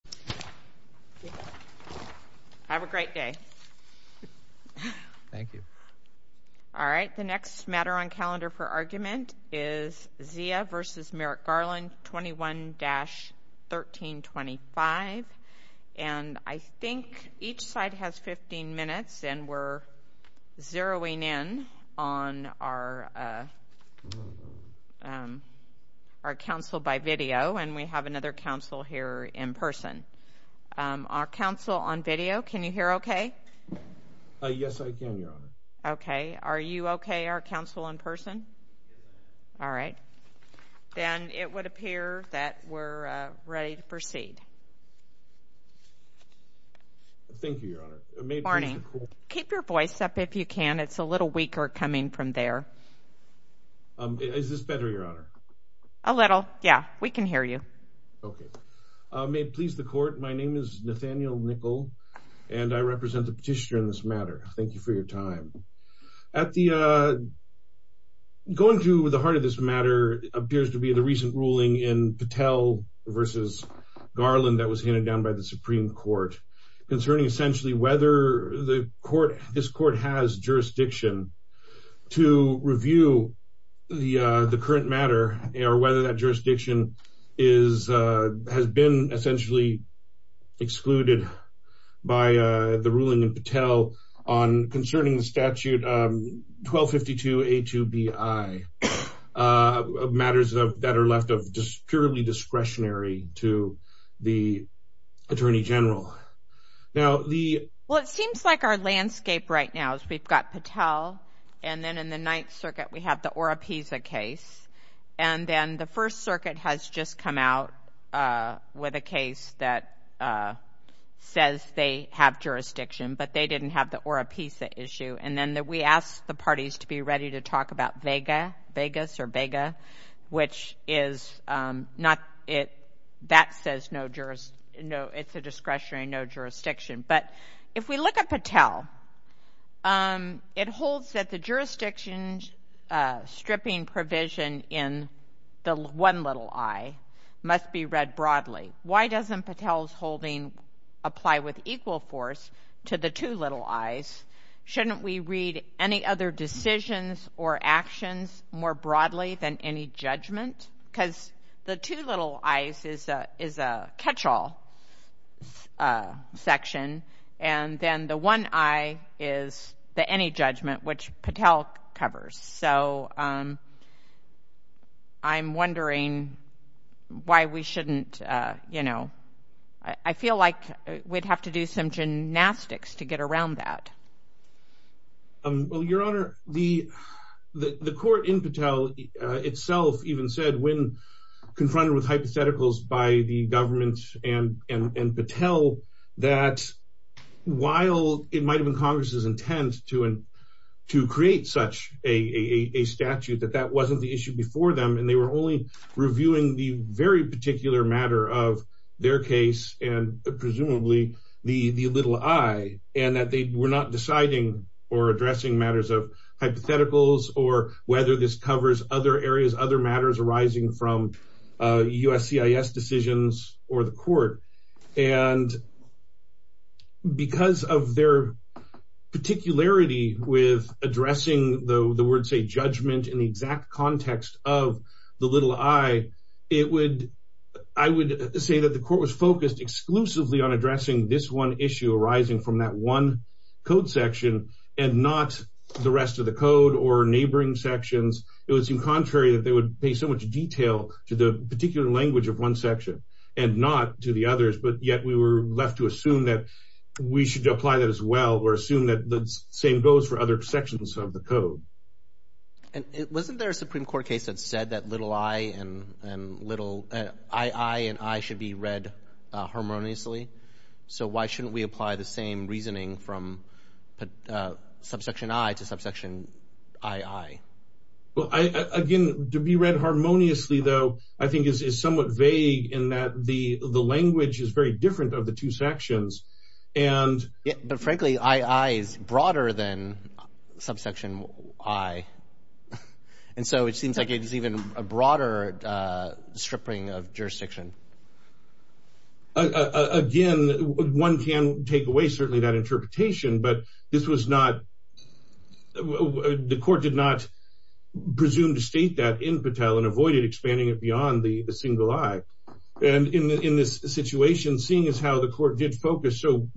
21-1325. And I think each side has 15 minutes, and we're zeroing in on our council by video, and we have another council here in person. Our council on video, can you hear okay? Yes, I can, Your Honor. Okay. Are you okay, our council, in person? All right. Then it would appear that we're ready to proceed. Thank you, Your Honor. Good morning. Keep your voice up if you can. It's a little weaker coming from there. Is this better, Your Honor? A little, yeah. We can hear you. Okay. May it please the court, my name is Nathaniel Nickel, and I represent the petitioner in this matter. Thank you for your time. Going to the heart of this matter appears to be the recent ruling in Patel v. Garland that was handed down by the Supreme Court concerning essentially whether this court has jurisdiction to review the current matter, or whether that jurisdiction has been essentially excluded by the ruling in Patel concerning the statute 1252A2Bi, matters that are left purely discretionary to the Attorney General. Well, it seems like our landscape right now is we've got Patel, and then in the Ninth Circuit we have the Oropesa case. And then the First Circuit has just come out with a case that says they have jurisdiction, but they didn't have the Oropesa issue. And then we asked the parties to be ready to talk about Vega, Vegas or Vega, which is not, that says no, it's a discretionary no jurisdiction. But if we look at Patel, it holds that the jurisdiction stripping provision in the one little I must be read broadly. Why doesn't Patel's holding apply with equal force to the two little I's? Shouldn't we read any other decisions or actions more broadly than any judgment? Because the two little I's is a catch-all section, and then the one I is the any judgment, which Patel covers. So I'm wondering why we shouldn't, you know, I feel like we'd have to do some gymnastics to get around that. Well, Your Honor, the court in Patel itself even said when confronted with hypotheticals by the government and Patel, that while it might have been Congress's intent to create such a statute, that that wasn't the issue before them. And they were only reviewing the very particular matter of their case and presumably the little I, and that they were not deciding or addressing matters of hypotheticals or whether this covers other areas, other matters arising from USCIS decisions or the court. And because of their particularity with addressing the word, say, judgment in the exact context of the little I, it would, I would say that the court was focused exclusively on addressing this one issue arising from that one code section and not the rest of the code or neighboring sections. It would seem contrary that they would pay so much detail to the particular language of one section and not to the others, but yet we were left to assume that we should apply that as well or assume that the same goes for other sections of the code. And wasn't there a Supreme Court case that said that little I and little, I-I and I should be read harmoniously? So why shouldn't we apply the same reasoning from subsection I to subsection I-I? Well, again, to be read harmoniously, though, I think is somewhat vague in that the language is very different of the two sections. But frankly, I-I is broader than subsection I. And so it seems like it is even a broader stripping of jurisdiction. Again, one can take away certainly that interpretation, but this was not, the court did not presume to state that in Patel and avoided expanding it beyond the single I. And in this situation, seeing as how the court did focus so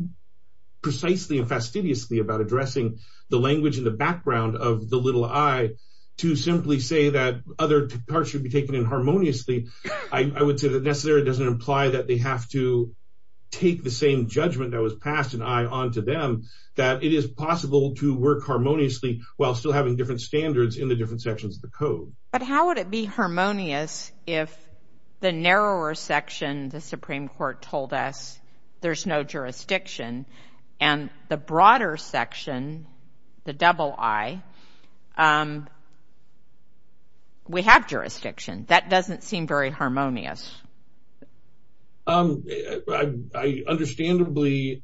precisely and fastidiously about addressing the language in the background of the little I, to simply say that other parts should be taken in harmoniously, I-I would say that necessarily doesn't imply that they have to take the same judgment that was passed in I onto them, that it is possible to work harmoniously while still having different standards in the different sections of the code. But how would it be harmonious if the narrower section the Supreme Court told us there's no jurisdiction and the broader section, the double I, we have jurisdiction? That doesn't seem very harmonious. I understandably,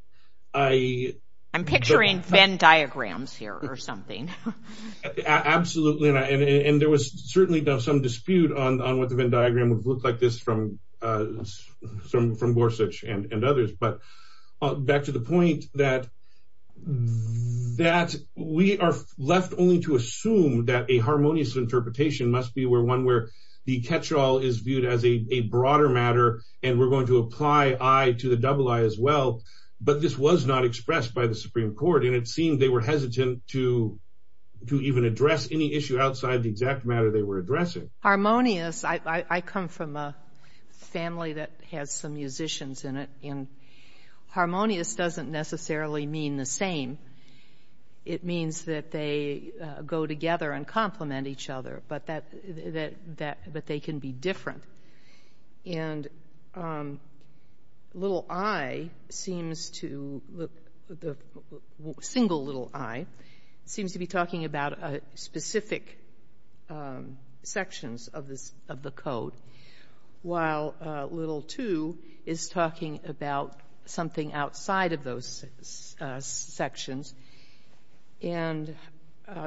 I- I'm picturing Venn diagrams here or something. Absolutely, and there was certainly some dispute on what the Venn diagram would look like this from Gorsuch and others. But back to the point that we are left only to assume that a harmonious interpretation must be one where the catch-all is viewed as a broader matter and we're going to apply I to the double I as well, but this was not expressed by the Supreme Court and it seemed they were hesitant to even address any issue outside the exact matter they were addressing. Harmonious, I come from a family that has some musicians in it, and harmonious doesn't necessarily mean the same. It means that they go together and complement each other, but that they can be different. And little I seems to- the single little I seems to be talking about specific sections of the code, while little two is talking about something outside of those sections. And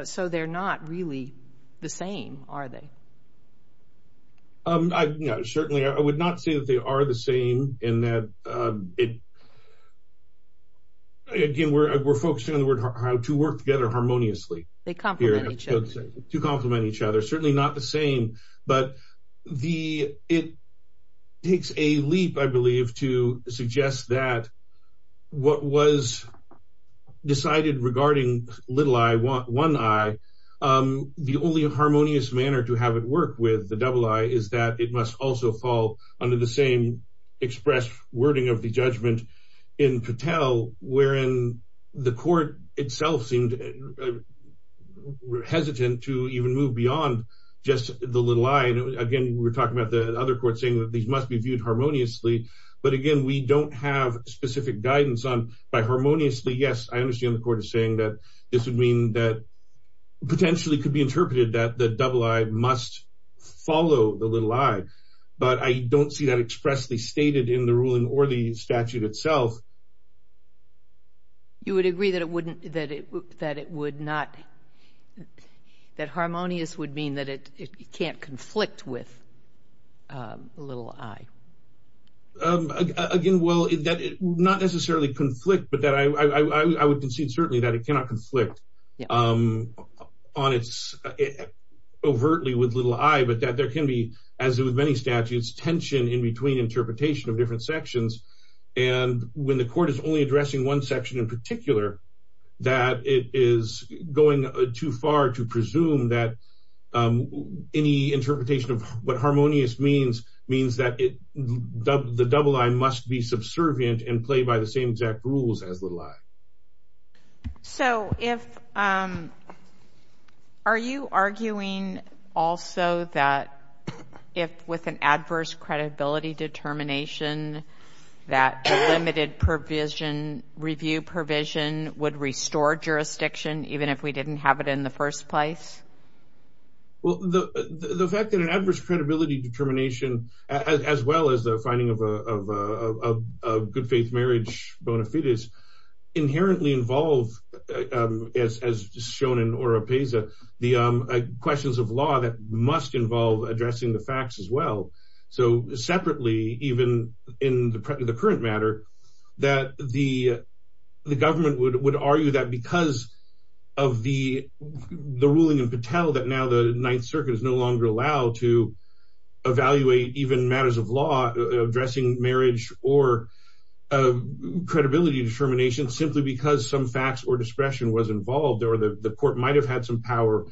so they're not really the same, are they? Certainly, I would not say that they are the same in that it- again, we're focusing on the word how to work together harmoniously. They complement each other. To complement each other, certainly not the same, but the- it takes a leap, I believe, to suggest that what was decided regarding little I, one I, the only harmonious manner to have it work with the double I is that it must also fall under the same expressed wording of the judgment in Patel, wherein the court itself seemed hesitant to even move beyond just the little I. Again, we're talking about the other court saying that these must be viewed harmoniously, but again, we don't have specific guidance on- by harmoniously, yes, I understand the court is saying that this would mean that potentially could be interpreted that the double I must follow the little I, but I don't see that expressly stated in the ruling or the statute itself. You would agree that it wouldn't- that it would not- that harmonious would mean that it can't conflict with little I? Again, well, that it would not necessarily conflict, but that I would concede certainly that it cannot conflict on its- overtly with little I, but that there can be, as with many statutes, tension in between interpretation of different sections, and when the court is only addressing one section in particular, that it is going too far to presume that any interpretation of what harmonious means that it- the double I must be subservient and play by the same exact rules as little I. So, if- are you arguing also that if with an adverse credibility determination, that limited provision- review provision would restore jurisdiction, even if we didn't have it in the first place? Well, the fact that an adverse credibility determination, as well as the finding of a good faith marriage bona fides, inherently involve, as shown in ORA PESA, the questions of law that must involve addressing the facts as well. So, separately, even in the current matter, that the government would argue that because of the ruling in Patel, that now the Ninth Circuit is no longer allowed to evaluate even matters of law addressing marriage or credibility determination, simply because some facts or discretion was involved, or the court might have had some power,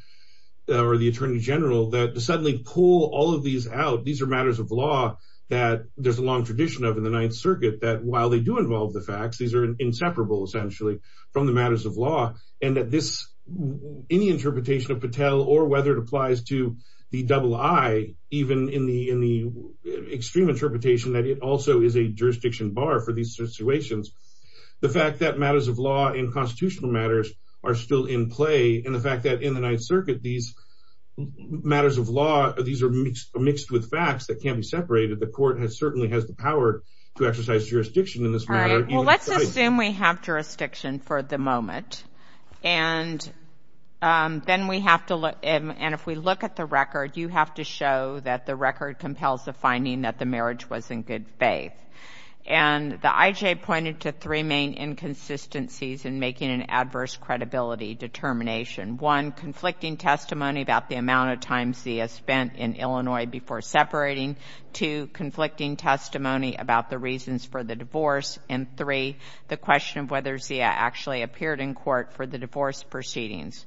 or the Attorney General, that to suddenly pull all of these out, these are matters of law that there's a long tradition of in the Ninth Circuit, that while they do involve the facts, these are inseparable, essentially, from the matters of law, and that this- any interpretation of Patel, or whether it applies to the double I, even in the extreme interpretation that it also is a jurisdiction bar for these situations, the fact that matters of law and constitutional matters are still in play, and the fact that in the Ninth Circuit, these matters of law, these are mixed with facts that can't be separated, the court certainly has the power to exercise jurisdiction in this matter. All right. Well, let's assume we have jurisdiction for the moment, and then we have to look- and if we look at the record, you have to show that the record compels the finding that the marriage was in good faith. And the IJ pointed to three main inconsistencies in making an adverse credibility determination. One, conflicting testimony about the amount of time Zia spent in Illinois before separating. Two, conflicting testimony about the reasons for the divorce. And three, the question of whether Zia actually appeared in court for the divorce proceedings.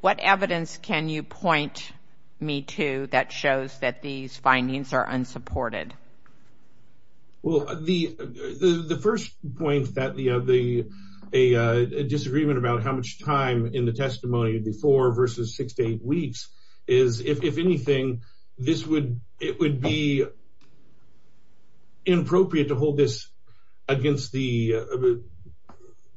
What evidence can you point me to that shows that these findings are unsupported? Well, the first point that the- a disagreement about how much time in the testimony before versus six to eight weeks, is if anything, this would- it would be inappropriate to hold this against the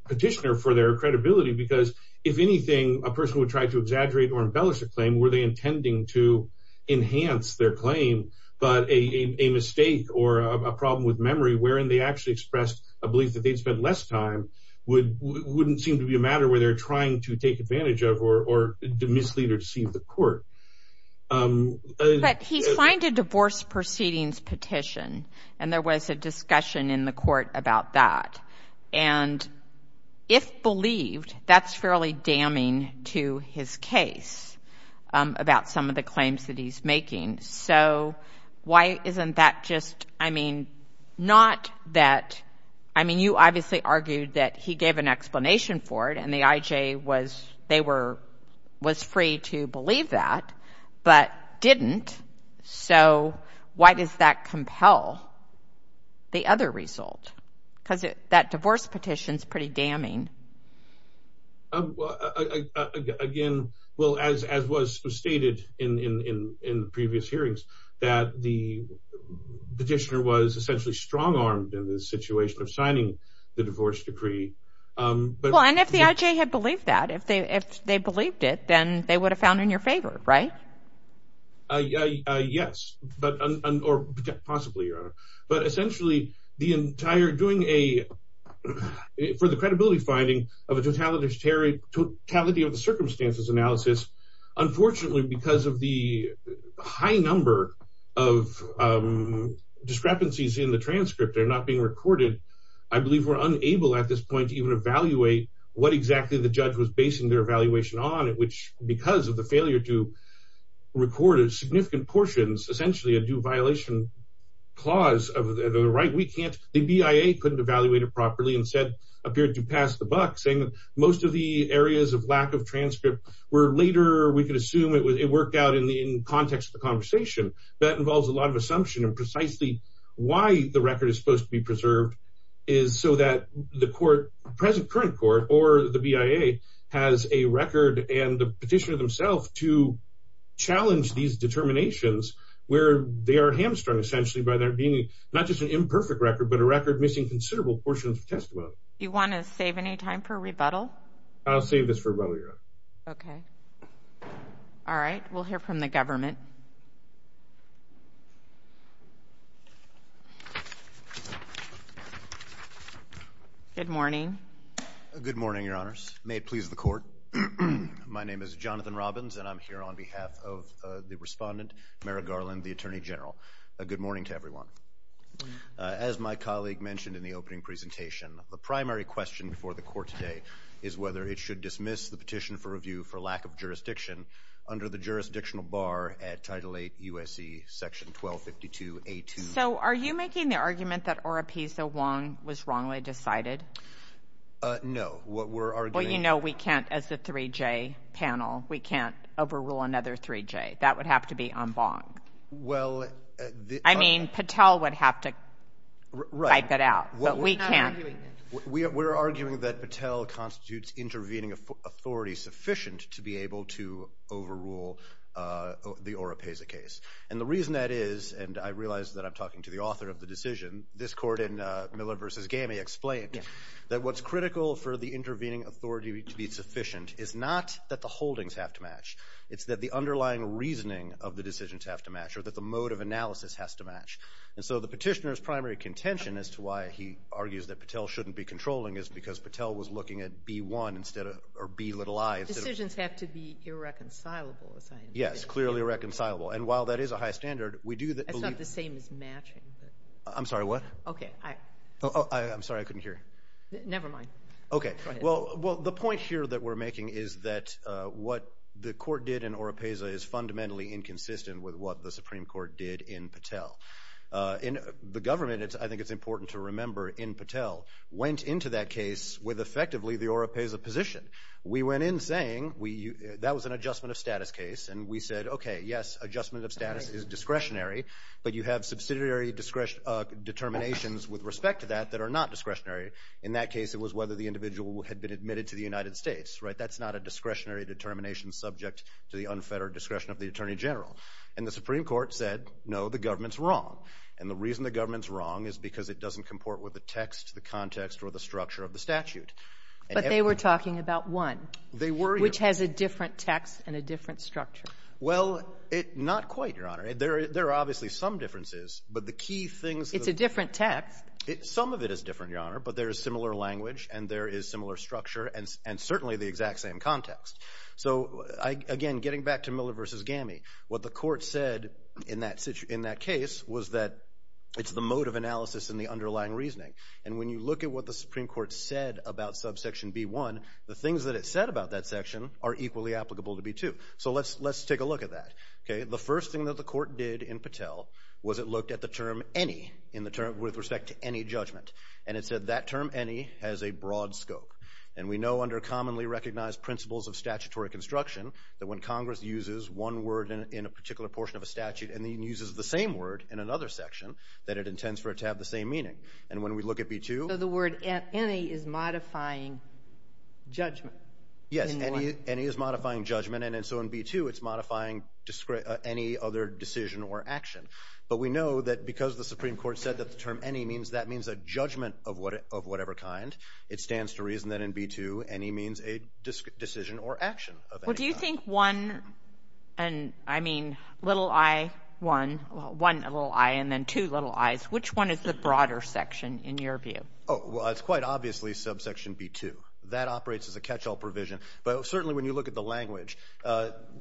petitioner for their credibility, because if anything, a person would try to exaggerate or embellish a claim, were they intending to enhance their claim? But a mistake or a problem with memory wherein they actually expressed a belief that they'd spent less time wouldn't seem to be a matter where they're trying to take advantage of or mislead or deceive the court. But he signed a divorce proceedings petition, and there was a discussion in the court about that. And if believed, that's fairly damning to his case about some of the claims that he's making. So why isn't that just- I mean, not that- I mean, you obviously argued that he gave an explanation for it, and the IJ was- they were- was free to believe that, but didn't. So why does that compel the other result? Because that divorce petition's pretty damning. Again, well, as was stated in the previous hearings, that the petitioner was essentially strong-armed in the situation of signing the divorce decree, but- Well, and if the IJ had believed that, if they believed it, then they would have found in your favor, right? Yes, but- or possibly, Your Honor. But essentially, the entire- doing a- for the credibility finding of a totality of the circumstances analysis, unfortunately, because of the high number of discrepancies in the transcript that are not being recorded, I believe we're unable at this point to even evaluate what exactly the judge was basing their evaluation on, at which- because of the failure to record significant portions, essentially a due violation clause of the right, we can't- the BIA couldn't evaluate it properly and said- appeared to pass the buck, saying that most of the areas of lack of transcript were later- we could assume it worked out in context of the conversation. That involves a lot of assumption, and precisely why the record is supposed to be preserved is so that the court- present current court or the BIA has a record and the petitioner themselves to challenge these determinations where they are hamstrung, essentially, by there being not just an imperfect record, but a record missing considerable portions of testimony. Do you want to save any time for rebuttal? I'll save this for rebuttal, Your Honor. Okay. All right, we'll hear from the government. Good morning. Good morning, Your Honors. May it please the court, my name is Jonathan Robbins, and I'm here on behalf of the respondent, Mara Garland, the Attorney General. Good morning to everyone. As my colleague mentioned in the opening presentation, the primary question for the court today is whether it should dismiss the petition for review for lack of jurisdiction under the jurisdictional bar at Title VIII U.S.C. Section 1252A2. So are you making the argument that Oropesa Wong was wrongly decided? No. What we're arguing- Well, you know we can't, as a 3J panel, we can't overrule another 3J. That would have to be en banc. Well- I mean, Patel would have to wipe it out, but we can't- We're not arguing that. We're arguing that Patel constitutes intervening authority sufficient to be able to overrule the Oropesa case. And the reason that is, and I realize that I'm talking to the author of the decision, this court in Miller v. Gamey explained that what's critical for the intervening authority to be sufficient is not that the holdings have to match. It's that the underlying reasoning of the decisions have to match or that the mode of analysis has to match. And so the petitioner's primary contention as to why he argues that Patel shouldn't be controlling is because Patel was looking at B-1 instead of B-i. Decisions have to be irreconcilable. Yes, clearly irreconcilable. And while that is a high standard, we do believe- That's not the same as matching. I'm sorry, what? Okay. I'm sorry, I couldn't hear. Never mind. Okay. Well, the point here that we're making is that what the court did in Oropesa is fundamentally inconsistent with what the Supreme Court did in Patel. The government, I think it's important to remember, in Patel, went into that case with effectively the Oropesa position. We went in saying that was an adjustment of status case, and we said, okay, yes, adjustment of status is discretionary, but you have subsidiary determinations with respect to that that are not discretionary. In that case, it was whether the individual had been admitted to the United States, right? That's not a discretionary determination subject to the unfettered discretion of the Attorney General. And the Supreme Court said, no, the government's wrong. And the reason the government's wrong is because it doesn't comport with the text, the context, or the structure of the statute. But they were talking about one. They were, Your Honor. Which has a different text and a different structure. Well, not quite, Your Honor. There are obviously some differences, but the key things that the court said in that case was that it's the mode of analysis and the underlying reasoning. And when you look at what the Supreme Court said about subsection B-1, the things that it said about that section are equally applicable to B-2. So let's take a look at that. The first thing that the court did in Patel was it looked at the term any with respect to any judgment. And it said that term any has a broad scope. And we know under commonly recognized principles of statutory construction that when Congress uses one word in a particular portion of a statute and then uses the same word in another section, that it intends for it to have the same meaning. And when we look at B-2. So the word any is modifying judgment. Yes, any is modifying judgment. And so in B-2 it's modifying any other decision or action. But we know that because the Supreme Court said that the term any means that means a judgment of whatever kind, it stands to reason that in B-2 any means a decision or action of any kind. Well, do you think one and, I mean, little i, one, one little i and then two little i's, which one is the broader section in your view? Oh, well, it's quite obviously subsection B-2. That operates as a catch-all provision. But certainly when you look at the language,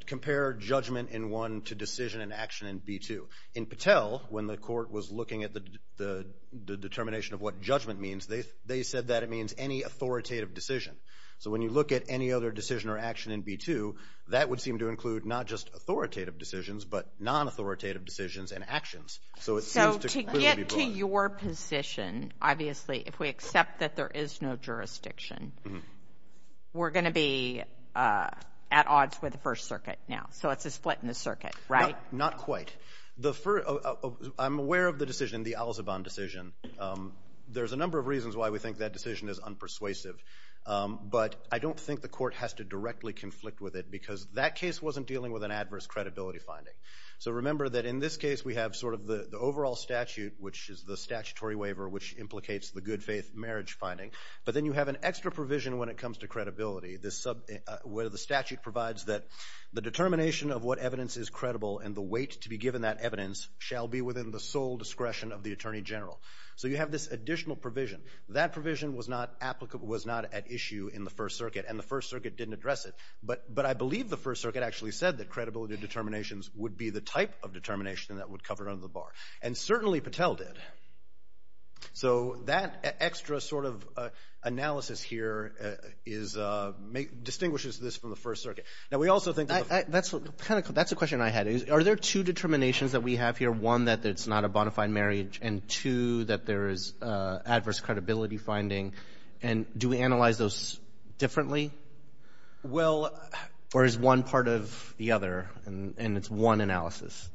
compare judgment in one to decision and action in B-2. In Patel, when the court was looking at the determination of what judgment means, they said that it means any authoritative decision. So when you look at any other decision or action in B-2, that would seem to include not just authoritative decisions, but non-authoritative decisions and actions. So it seems to clearly be broad. So to get to your position, obviously, if we accept that there is no jurisdiction, we're going to be at odds with the First Circuit now. So it's a split in the circuit, right? Not quite. I'm aware of the decision, the Al-Zaban decision. There's a number of reasons why we think that decision is unpersuasive. But I don't think the court has to directly conflict with it because that case wasn't dealing with an adverse credibility finding. So remember that in this case, we have sort of the overall statute, which is the statutory waiver, which implicates the good faith marriage finding. But then you have an extra provision when it comes to credibility, where the statute provides that the determination of what evidence is credible and the weight to be given that evidence shall be within the sole discretion of the Attorney General. So you have this additional provision. That provision was not at issue in the First Circuit, and the First Circuit didn't address it. But I believe the First Circuit actually said that credibility determinations would be the type of determination that would cover under the bar, and certainly Patel did. So that extra sort of analysis here distinguishes this from the First Circuit. That's a question I had. Are there two determinations that we have here, one, that it's not a bona fide marriage, and two, that there is adverse credibility finding? And do we analyze those differently? Or is one part of the other, and it's one analysis?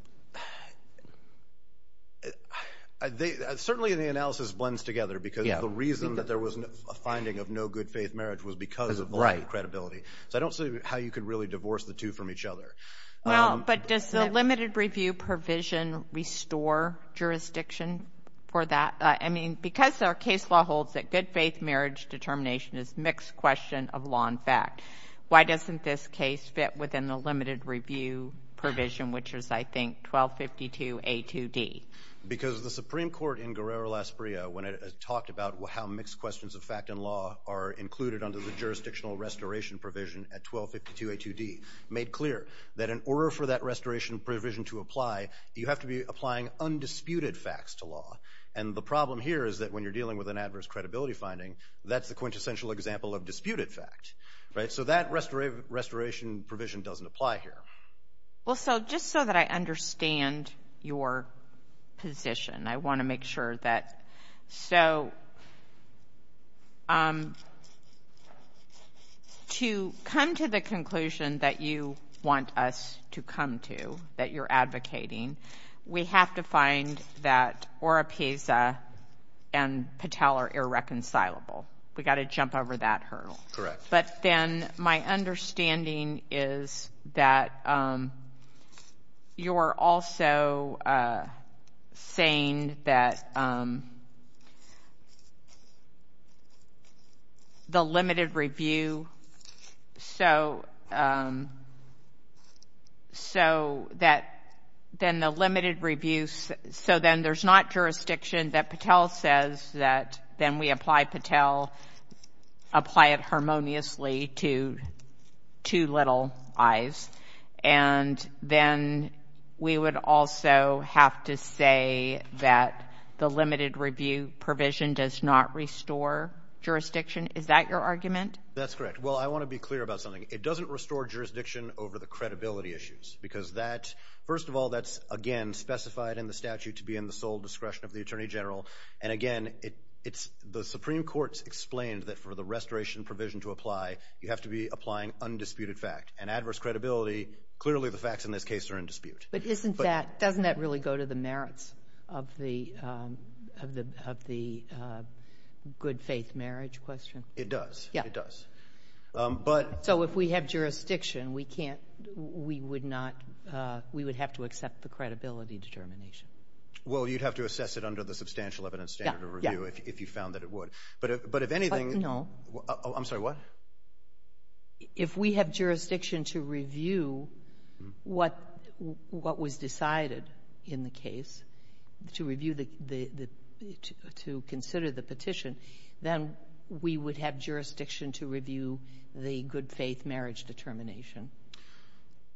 Certainly the analysis blends together because the reason that there was a finding of no good faith marriage was because of the lack of credibility. So I don't see how you could really divorce the two from each other. No, but does the limited review provision restore jurisdiction for that? I mean, because our case law holds that good faith marriage determination is a mixed question of law and fact, why doesn't this case fit within the limited review provision, which is, I think, 1252A2D? When it talked about how mixed questions of fact and law are included under the jurisdictional restoration provision at 1252A2D, it made clear that in order for that restoration provision to apply, you have to be applying undisputed facts to law. And the problem here is that when you're dealing with an adverse credibility finding, that's the quintessential example of disputed fact. So that restoration provision doesn't apply here. Well, so just so that I understand your position, I want to make sure that. So to come to the conclusion that you want us to come to, that you're advocating, we have to find that Oropieza and Patel are irreconcilable. We've got to jump over that hurdle. Correct. But then my understanding is that you're also saying that the limited review, so that then the limited review, so then there's not jurisdiction that Patel says that then we apply Patel, apply it harmoniously to two little eyes, and then we would also have to say that the limited review provision does not restore jurisdiction. Is that your argument? That's correct. Well, I want to be clear about something. It doesn't restore jurisdiction over the credibility issues because that, first of all, that's, again, specified in the statute to be in the sole discretion of the Attorney General. And, again, the Supreme Court's explained that for the restoration provision to apply, you have to be applying undisputed fact. And adverse credibility, clearly the facts in this case are in dispute. But doesn't that really go to the merits of the good faith marriage question? It does. Yeah. It does. So if we have jurisdiction, we would have to accept the credibility determination. Well, you'd have to assess it under the substantial evidence standard of review if you found that it would. But if anything — No. I'm sorry. What? If we have jurisdiction to review what was decided in the case, to review the — to consider the petition, then we would have jurisdiction to review the good faith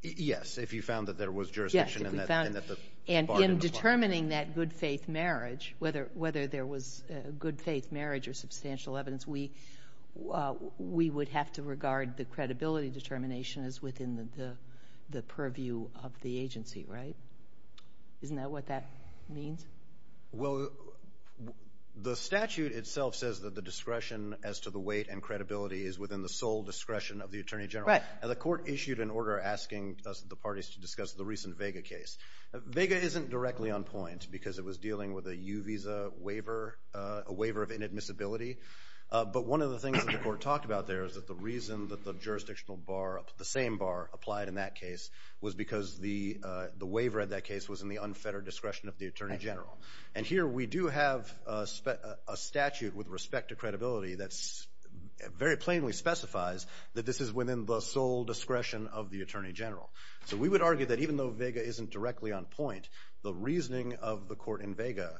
Yes, if you found that there was jurisdiction in that part of the law. And in determining that good faith marriage, whether there was good faith marriage or substantial evidence, we would have to regard the credibility determination as within the purview of the agency, right? Isn't that what that means? Well, the statute itself says that the discretion as to the weight and credibility is within the sole discretion of the Attorney General. Right. And the court issued an order asking the parties to discuss the recent Vega case. Vega isn't directly on point because it was dealing with a U visa waiver, a waiver of inadmissibility. But one of the things that the court talked about there is that the reason that the jurisdictional bar, the same bar applied in that case, was because the waiver of that case was in the unfettered discretion of the Attorney General. And here we do have a statute with respect to credibility that very plainly specifies that this is within the sole discretion of the Attorney General. So we would argue that even though Vega isn't directly on point, the reasoning of the court in Vega,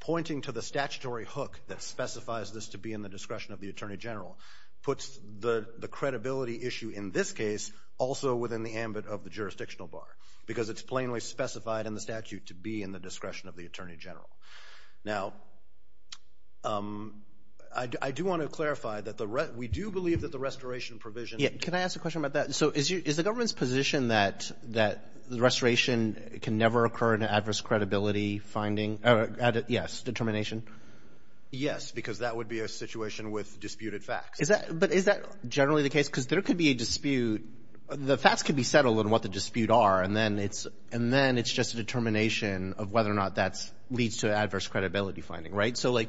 pointing to the statutory hook that specifies this to be in the discretion of the Attorney General, puts the credibility issue in this case also within the ambit of the jurisdictional bar because it's plainly specified in the statute to be in the discretion of the Attorney General. Now, I do want to clarify that we do believe that the restoration provision. Can I ask a question about that? So is the government's position that the restoration can never occur in an adverse credibility finding? Yes. Determination? Yes, because that would be a situation with disputed facts. But is that generally the case? Because there could be a dispute. The facts could be settled in what the dispute are, and then it's just a determination of whether or not that leads to adverse credibility finding, right? So, like,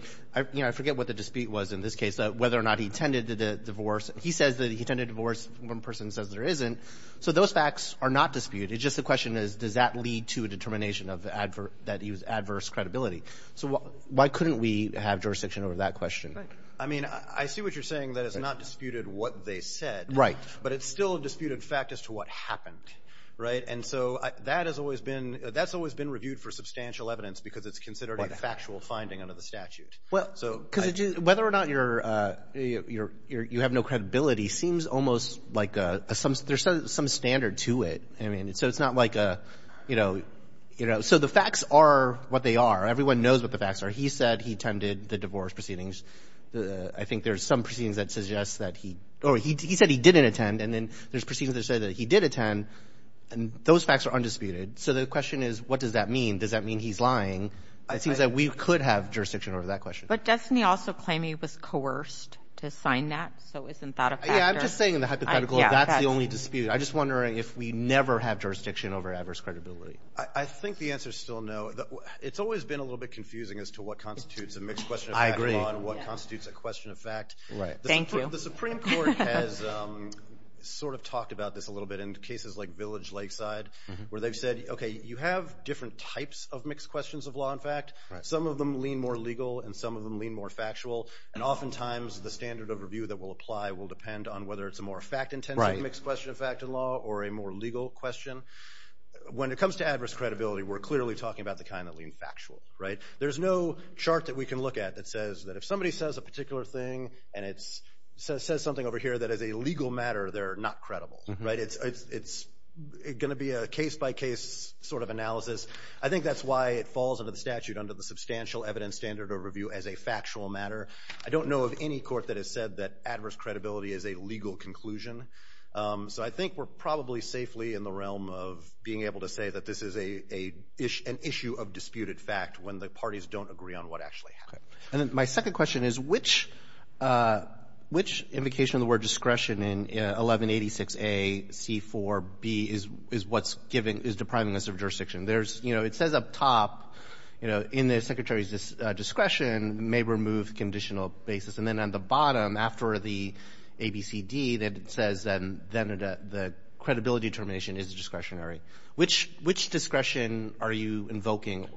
you know, I forget what the dispute was in this case, whether or not he attended the divorce. He says that he attended the divorce. One person says there isn't. So those facts are not disputed. It's just the question is, does that lead to a determination that he was adverse credibility? So why couldn't we have jurisdiction over that question? I mean, I see what you're saying, that it's not disputed what they said. Right. But it's still a disputed fact as to what happened, right? And so that has always been reviewed for substantial evidence because it's considered a factual finding under the statute. Well, because whether or not you have no credibility seems almost like there's some standard to it. I mean, so it's not like a, you know, so the facts are what they are. Everyone knows what the facts are. He said he attended the divorce proceedings. I think there's some proceedings that suggest that he – or he said he didn't attend, and then there's proceedings that say that he did attend, and those facts are undisputed. So the question is, what does that mean? Does that mean he's lying? It seems that we could have jurisdiction over that question. But doesn't he also claim he was coerced to sign that? So isn't that a factor? Yeah, I'm just saying in the hypothetical, that's the only dispute. I'm just wondering if we never have jurisdiction over adverse credibility. I think the answer is still no. It's always been a little bit confusing as to what constitutes a mixed question of fact. I agree. On what constitutes a question of fact. Right. Thank you. Well, the Supreme Court has sort of talked about this a little bit in cases like Village Lakeside, where they've said, okay, you have different types of mixed questions of law and fact. Some of them lean more legal, and some of them lean more factual. And oftentimes the standard of review that will apply will depend on whether it's a more fact-intensive mixed question of fact in law or a more legal question. When it comes to adverse credibility, we're clearly talking about the kind that lean factual, right? There's no chart that we can look at that says that if somebody says a particular thing and it says something over here that is a legal matter, they're not credible, right? It's going to be a case-by-case sort of analysis. I think that's why it falls under the statute under the substantial evidence standard of review as a factual matter. I don't know of any court that has said that adverse credibility is a legal conclusion. So I think we're probably safely in the realm of being able to say that this is an issue of disputed fact when the parties don't agree on what actually happened. Okay. And then my second question is, which invocation of the word discretion in 1186A, C-4B, is what's giving – is depriving us of jurisdiction? There's – you know, it says up top, you know, in the Secretary's discretion may remove conditional basis. And then on the bottom, after the ABCD, it says then the credibility determination is discretionary. Which discretion are you invoking?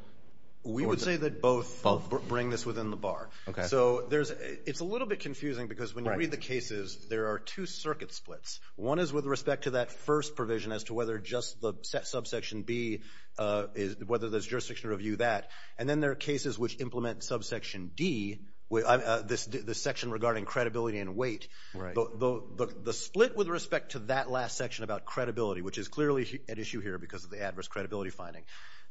We would say that both bring this within the bar. Okay. So there's – it's a little bit confusing because when you read the cases, there are two circuit splits. One is with respect to that first provision as to whether just the subsection B, whether there's jurisdiction to review that. And then there are cases which implement subsection D, the section regarding credibility and weight. Right. So the split with respect to that last section about credibility, which is clearly at issue here because of the adverse credibility finding.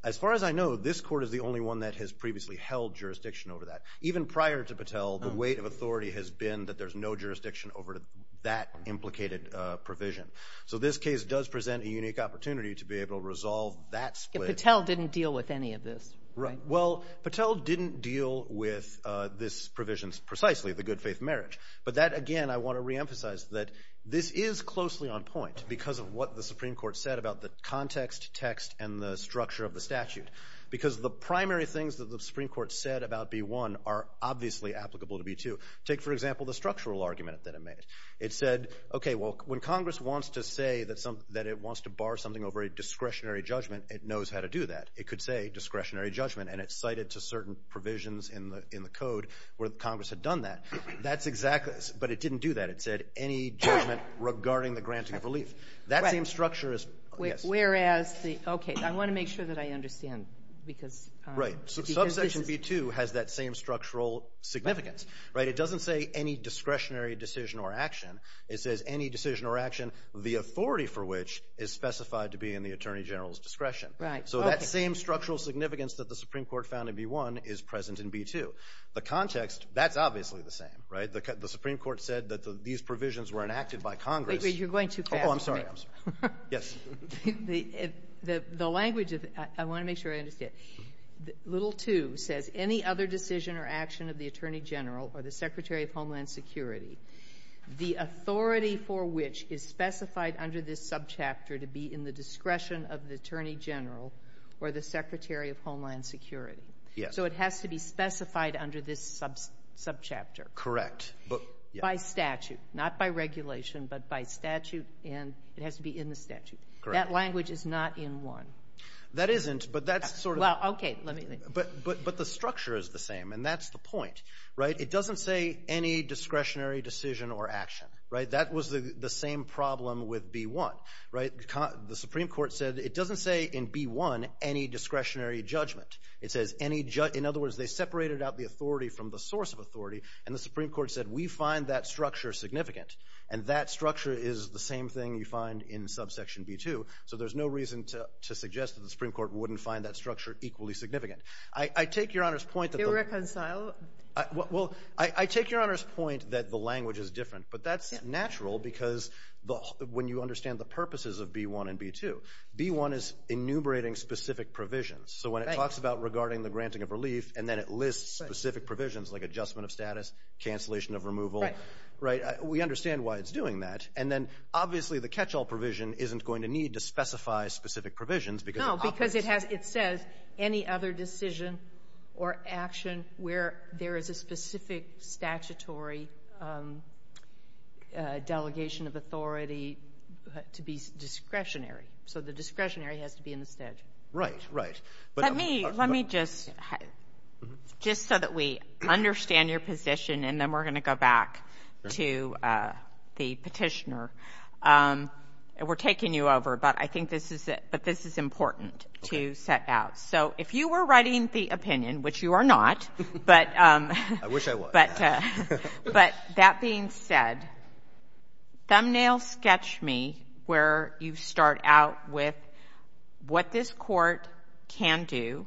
As far as I know, this Court is the only one that has previously held jurisdiction over that. Even prior to Patel, the weight of authority has been that there's no jurisdiction over that implicated provision. So this case does present a unique opportunity to be able to resolve that split. Patel didn't deal with any of this, right? Well, Patel didn't deal with this provision precisely, the good faith marriage. But that, again, I want to reemphasize that this is closely on point because of what the Supreme Court said about the context, text, and the structure of the statute. Because the primary things that the Supreme Court said about B-1 are obviously applicable to B-2. Take, for example, the structural argument that it made. It said, okay, well, when Congress wants to say that it wants to bar something over a discretionary judgment, it knows how to do that. It could say discretionary judgment, and it cited to certain provisions in the code where Congress had done that. That's exactly what it said. But it didn't do that. It said any judgment regarding the granting of relief. That same structure is, yes. Whereas the, okay, I want to make sure that I understand. Right. So subsection B-2 has that same structural significance, right? It doesn't say any discretionary decision or action. It says any decision or action, the authority for which is specified to be in the Attorney General's discretion. Right. So that same structural significance that the Supreme Court found in B-1 is present in B-2. The context, that's obviously the same, right? The Supreme Court said that these provisions were enacted by Congress. Wait. Wait. You're going too fast. Oh, I'm sorry. I'm sorry. Yes. The language of it, I want to make sure I understand. Little 2 says any other decision or action of the Attorney General or the Secretary of Homeland Security, the authority for which is specified under this subchapter to be in the discretion of the Attorney General or the Secretary of Homeland Security. So it has to be specified under this subchapter. Correct. By statute, not by regulation, but by statute, and it has to be in the statute. Correct. That language is not in 1. That isn't, but that's sort of. Well, okay. But the structure is the same, and that's the point, right? It doesn't say any discretionary decision or action, right? That was the same problem with B-1, right? The Supreme Court said it doesn't say in B-1 any discretionary judgment. It says any judgment. In other words, they separated out the authority from the source of authority, and the Supreme Court said we find that structure significant, and that structure is the same thing you find in subsection B-2. So there's no reason to suggest that the Supreme Court wouldn't find that structure equally significant. I take Your Honor's point that the... To reconcile. Well, I take Your Honor's point that the language is different, but that's natural because when you understand the purposes of B-1 and B-2. B-1 is enumerating specific provisions. So when it talks about regarding the granting of relief and then it lists specific provisions like adjustment of status, cancellation of removal. Right. We understand why it's doing that. And then obviously the catch-all provision isn't going to need to specify specific provisions. No, because it says any other decision or action where there is a specific statutory delegation of authority to be discretionary. So the discretionary has to be in the statute. Right, right. Let me just, just so that we understand your position, and then we're going to go back to the petitioner. We're taking you over, but I think this is important to set out. So if you were writing the opinion, which you are not. I wish I was. But that being said, thumbnail sketch me where you start out with what this court can do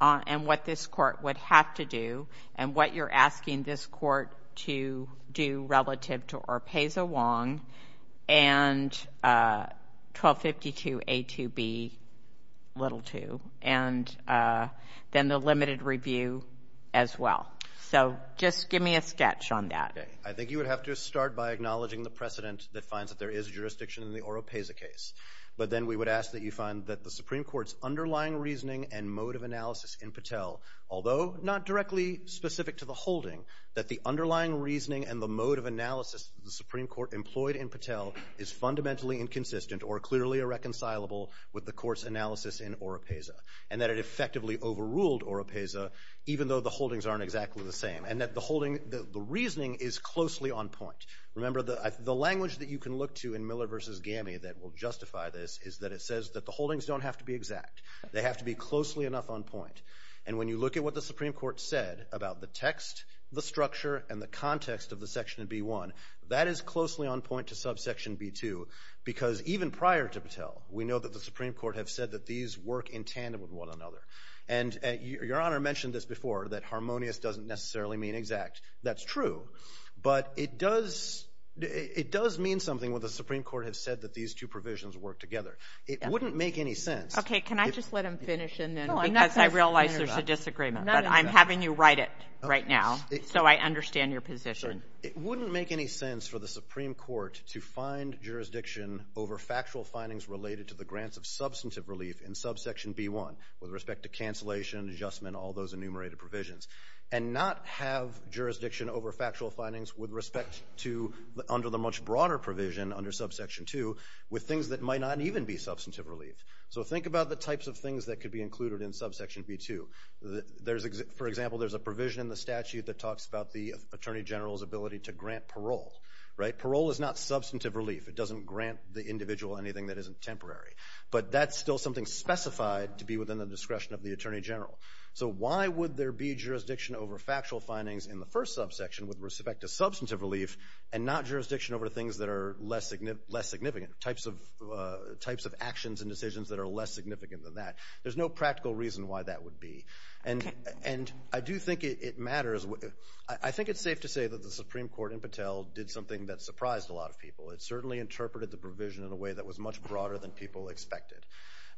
and what this court would have to do and what you're asking this court to do relative to Orpeza-Wong and 1252A2B2, and then the limited review as well. So just give me a sketch on that. Okay. I think you would have to start by acknowledging the precedent that finds that there is jurisdiction in the Orpeza case. But then we would ask that you find that the Supreme Court's underlying reasoning and mode of analysis in Patel, although not directly specific to the holding, that the underlying reasoning and the mode of analysis the Supreme Court employed in Patel is fundamentally inconsistent or clearly irreconcilable with the court's analysis in Orpeza, and that it effectively overruled Orpeza, even though the holdings aren't exactly the same, and that the reasoning is closely on point. Remember, the language that you can look to in Miller v. Gammey that will justify this is that it says that the holdings don't have to be exact. They have to be closely enough on point. And when you look at what the Supreme Court said about the text, the structure, and the context of the section in B1, that is closely on point to subsection B2 because even prior to Patel, we know that the Supreme Court have said that these work in tandem with one another. And Your Honor mentioned this before, that harmonious doesn't necessarily mean exact. That's true. But it does mean something when the Supreme Court has said that these two provisions work together. It wouldn't make any sense. Okay. Can I just let him finish, and then we can continue? No, I'm not going to finish. Because I realize there's a disagreement. But I'm having you write it right now so I understand your position. Sure. It wouldn't make any sense for the Supreme Court to find jurisdiction over factual findings related to the grants of substantive relief in subsection B1 with respect to cancellation, adjustment, all those enumerated provisions, and not have jurisdiction over factual findings with respect to under the much broader provision under subsection 2 with things that might not even be substantive relief. So think about the types of things that could be included in subsection B2. For example, there's a provision in the statute that talks about the Attorney General's ability to grant parole. Parole is not substantive relief. It doesn't grant the individual anything that isn't temporary. But that's still something specified to be within the discretion of the Attorney General. So why would there be jurisdiction over factual findings in the first subsection with respect to substantive relief and not jurisdiction over things that are less significant, types of actions and decisions that are less significant than that? There's no practical reason why that would be. And I do think it matters. I think it's safe to say that the Supreme Court in Patel did something that surprised a lot of people. It certainly interpreted the provision in a way that was much broader than people expected.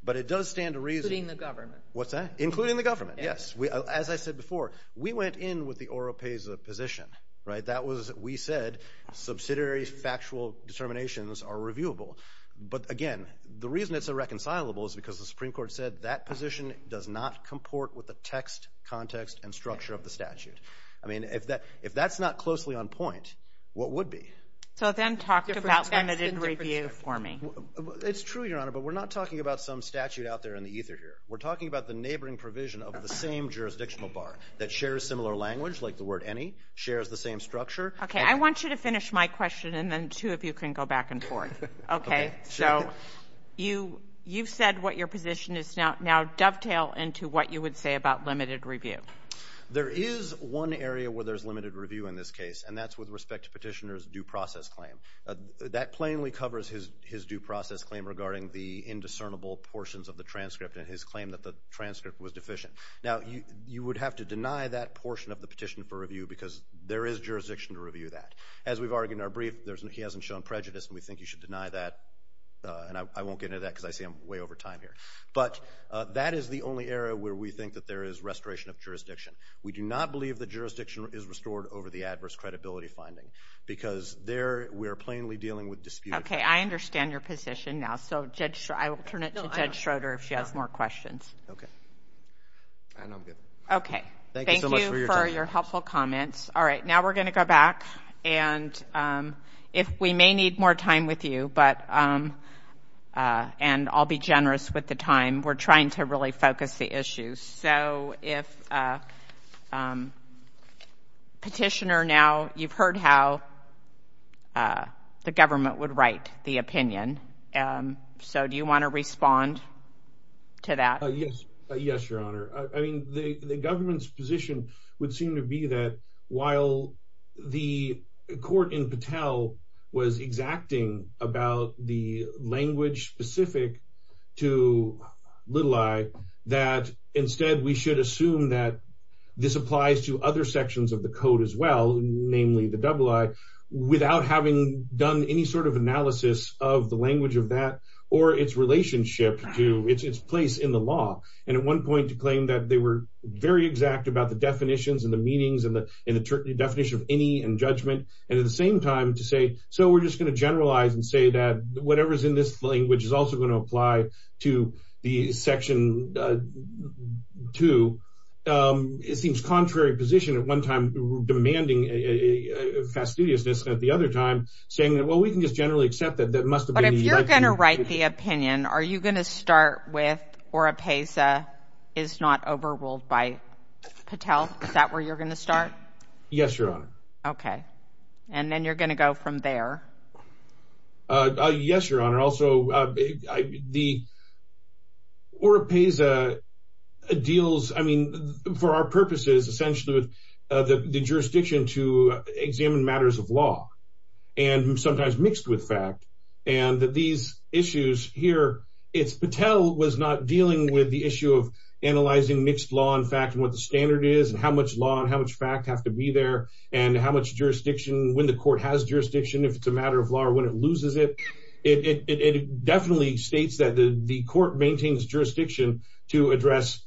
But it does stand to reason. Including the government. What's that? Including the government, yes. As I said before, we went in with the Oropesa position, right? That was, we said, subsidiary factual determinations are reviewable. But, again, the reason it's irreconcilable is because the Supreme Court said that position does not comport with the text, context, and structure of the statute. I mean, if that's not closely on point, what would be? So then talk about limited review for me. It's true, Your Honor, but we're not talking about some statute out there in the ether here. We're talking about the neighboring provision of the same jurisdictional bar that shares similar language, like the word any, shares the same structure. Okay. I want you to finish my question, and then two of you can go back and forth. Okay. So you've said what your position is. Now dovetail into what you would say about limited review. There is one area where there's limited review in this case, and that's with respect to Petitioner's due process claim. That plainly covers his due process claim regarding the indiscernible portions of the transcript and his claim that the transcript was deficient. Now you would have to deny that portion of the petition for review because there is jurisdiction to review that. As we've argued in our brief, he hasn't shown prejudice, and we think you should deny that. And I won't get into that because I see I'm way over time here. But that is the only area where we think that there is restoration of jurisdiction. We do not believe that jurisdiction is restored over the adverse credibility finding because there we are plainly dealing with dispute. Okay. I understand your position now. So I will turn it to Judge Schroeder if she has more questions. Okay. And I'm good. Okay. Thank you so much for your time. Thank you for your helpful comments. All right. Now we're going to go back. And we may need more time with you, and I'll be generous with the time. We're trying to really focus the issues. So if Petitioner now, you've heard how the government would write the opinion. So do you want to respond to that? Yes, Your Honor. I mean, the government's position would seem to be that while the court in Patel was exacting about the language specific to little i, that instead we should assume that this applies to other sections of the code as well, namely the double i, without having done any sort of analysis of the language of that or its relationship to its place in the law. And at one point to claim that they were very exact about the definitions and the meanings and the definition of any and judgment, and at the same time to say, so we're just going to generalize and say that whatever's in this language is also going to apply to the Section 2. It seems contrary position at one time demanding fastidiousness, and at the other time saying, well, we can just generally accept that that must have been the right thing. But if you're going to write the opinion, are you going to start with ORA PESA is not overruled by Patel? Is that where you're going to start? Yes, Your Honor. Okay. And then you're going to go from there. Yes, Your Honor. Also, the ORA PESA deals, I mean, for our purposes, essentially with the jurisdiction to examine matters of law and sometimes mixed with fact, and that these issues here, it's Patel was not dealing with the issue of analyzing mixed law and fact and what the standard is and how much law and how much fact have to be there and how much jurisdiction, when the court has jurisdiction, if it's a matter of law or when it loses it. It definitely states that the court maintains jurisdiction to address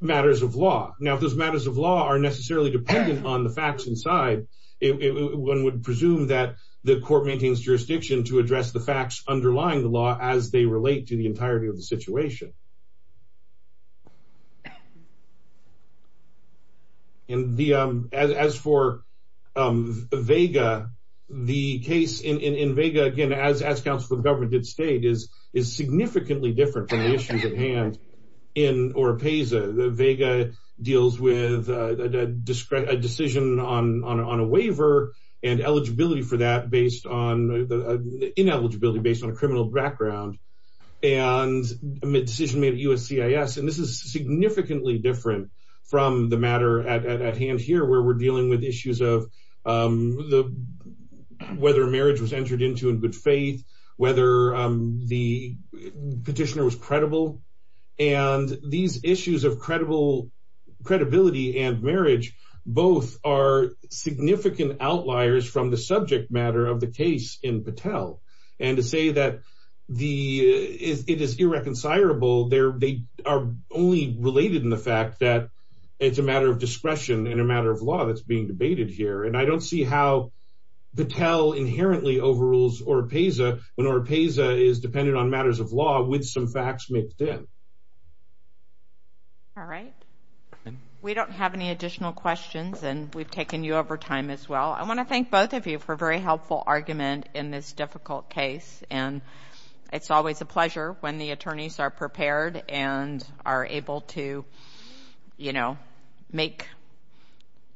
matters of law. Now, if those matters of law are necessarily dependent on the facts inside, one would presume that the court maintains jurisdiction to address the facts underlying the law as they relate to the entirety of the situation. And as for VEGA, the case in VEGA, again, as counsel of government did state, is significantly different from the issues at hand in ORA PESA. VEGA deals with a decision on a waiver and ineligibility based on a criminal background and a decision made at USCIS, and this is significantly different from the matter at hand here where we're dealing with issues of whether marriage was entered into in good faith, whether the petitioner was credible, and these issues of credibility and marriage both are significant outliers from the subject matter of the case in Patel. And to say that it is irreconcilable, they are only related in the fact that it's a matter of discretion and a matter of law that's being debated here. And I don't see how Patel inherently overrules ORA PESA when ORA PESA is dependent on matters of law with some facts mixed in. All right. We don't have any additional questions, and we've taken you over time as well. I want to thank both of you for a very helpful argument in this difficult case, and it's always a pleasure when the attorneys are prepared and are able to, you know, make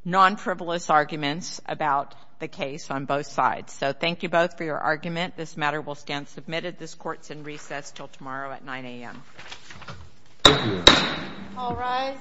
non-frivolous arguments about the case on both sides. So thank you both for your argument. This matter will stand submitted. This court's in recess until tomorrow at 9 a.m. Thank you. All rise.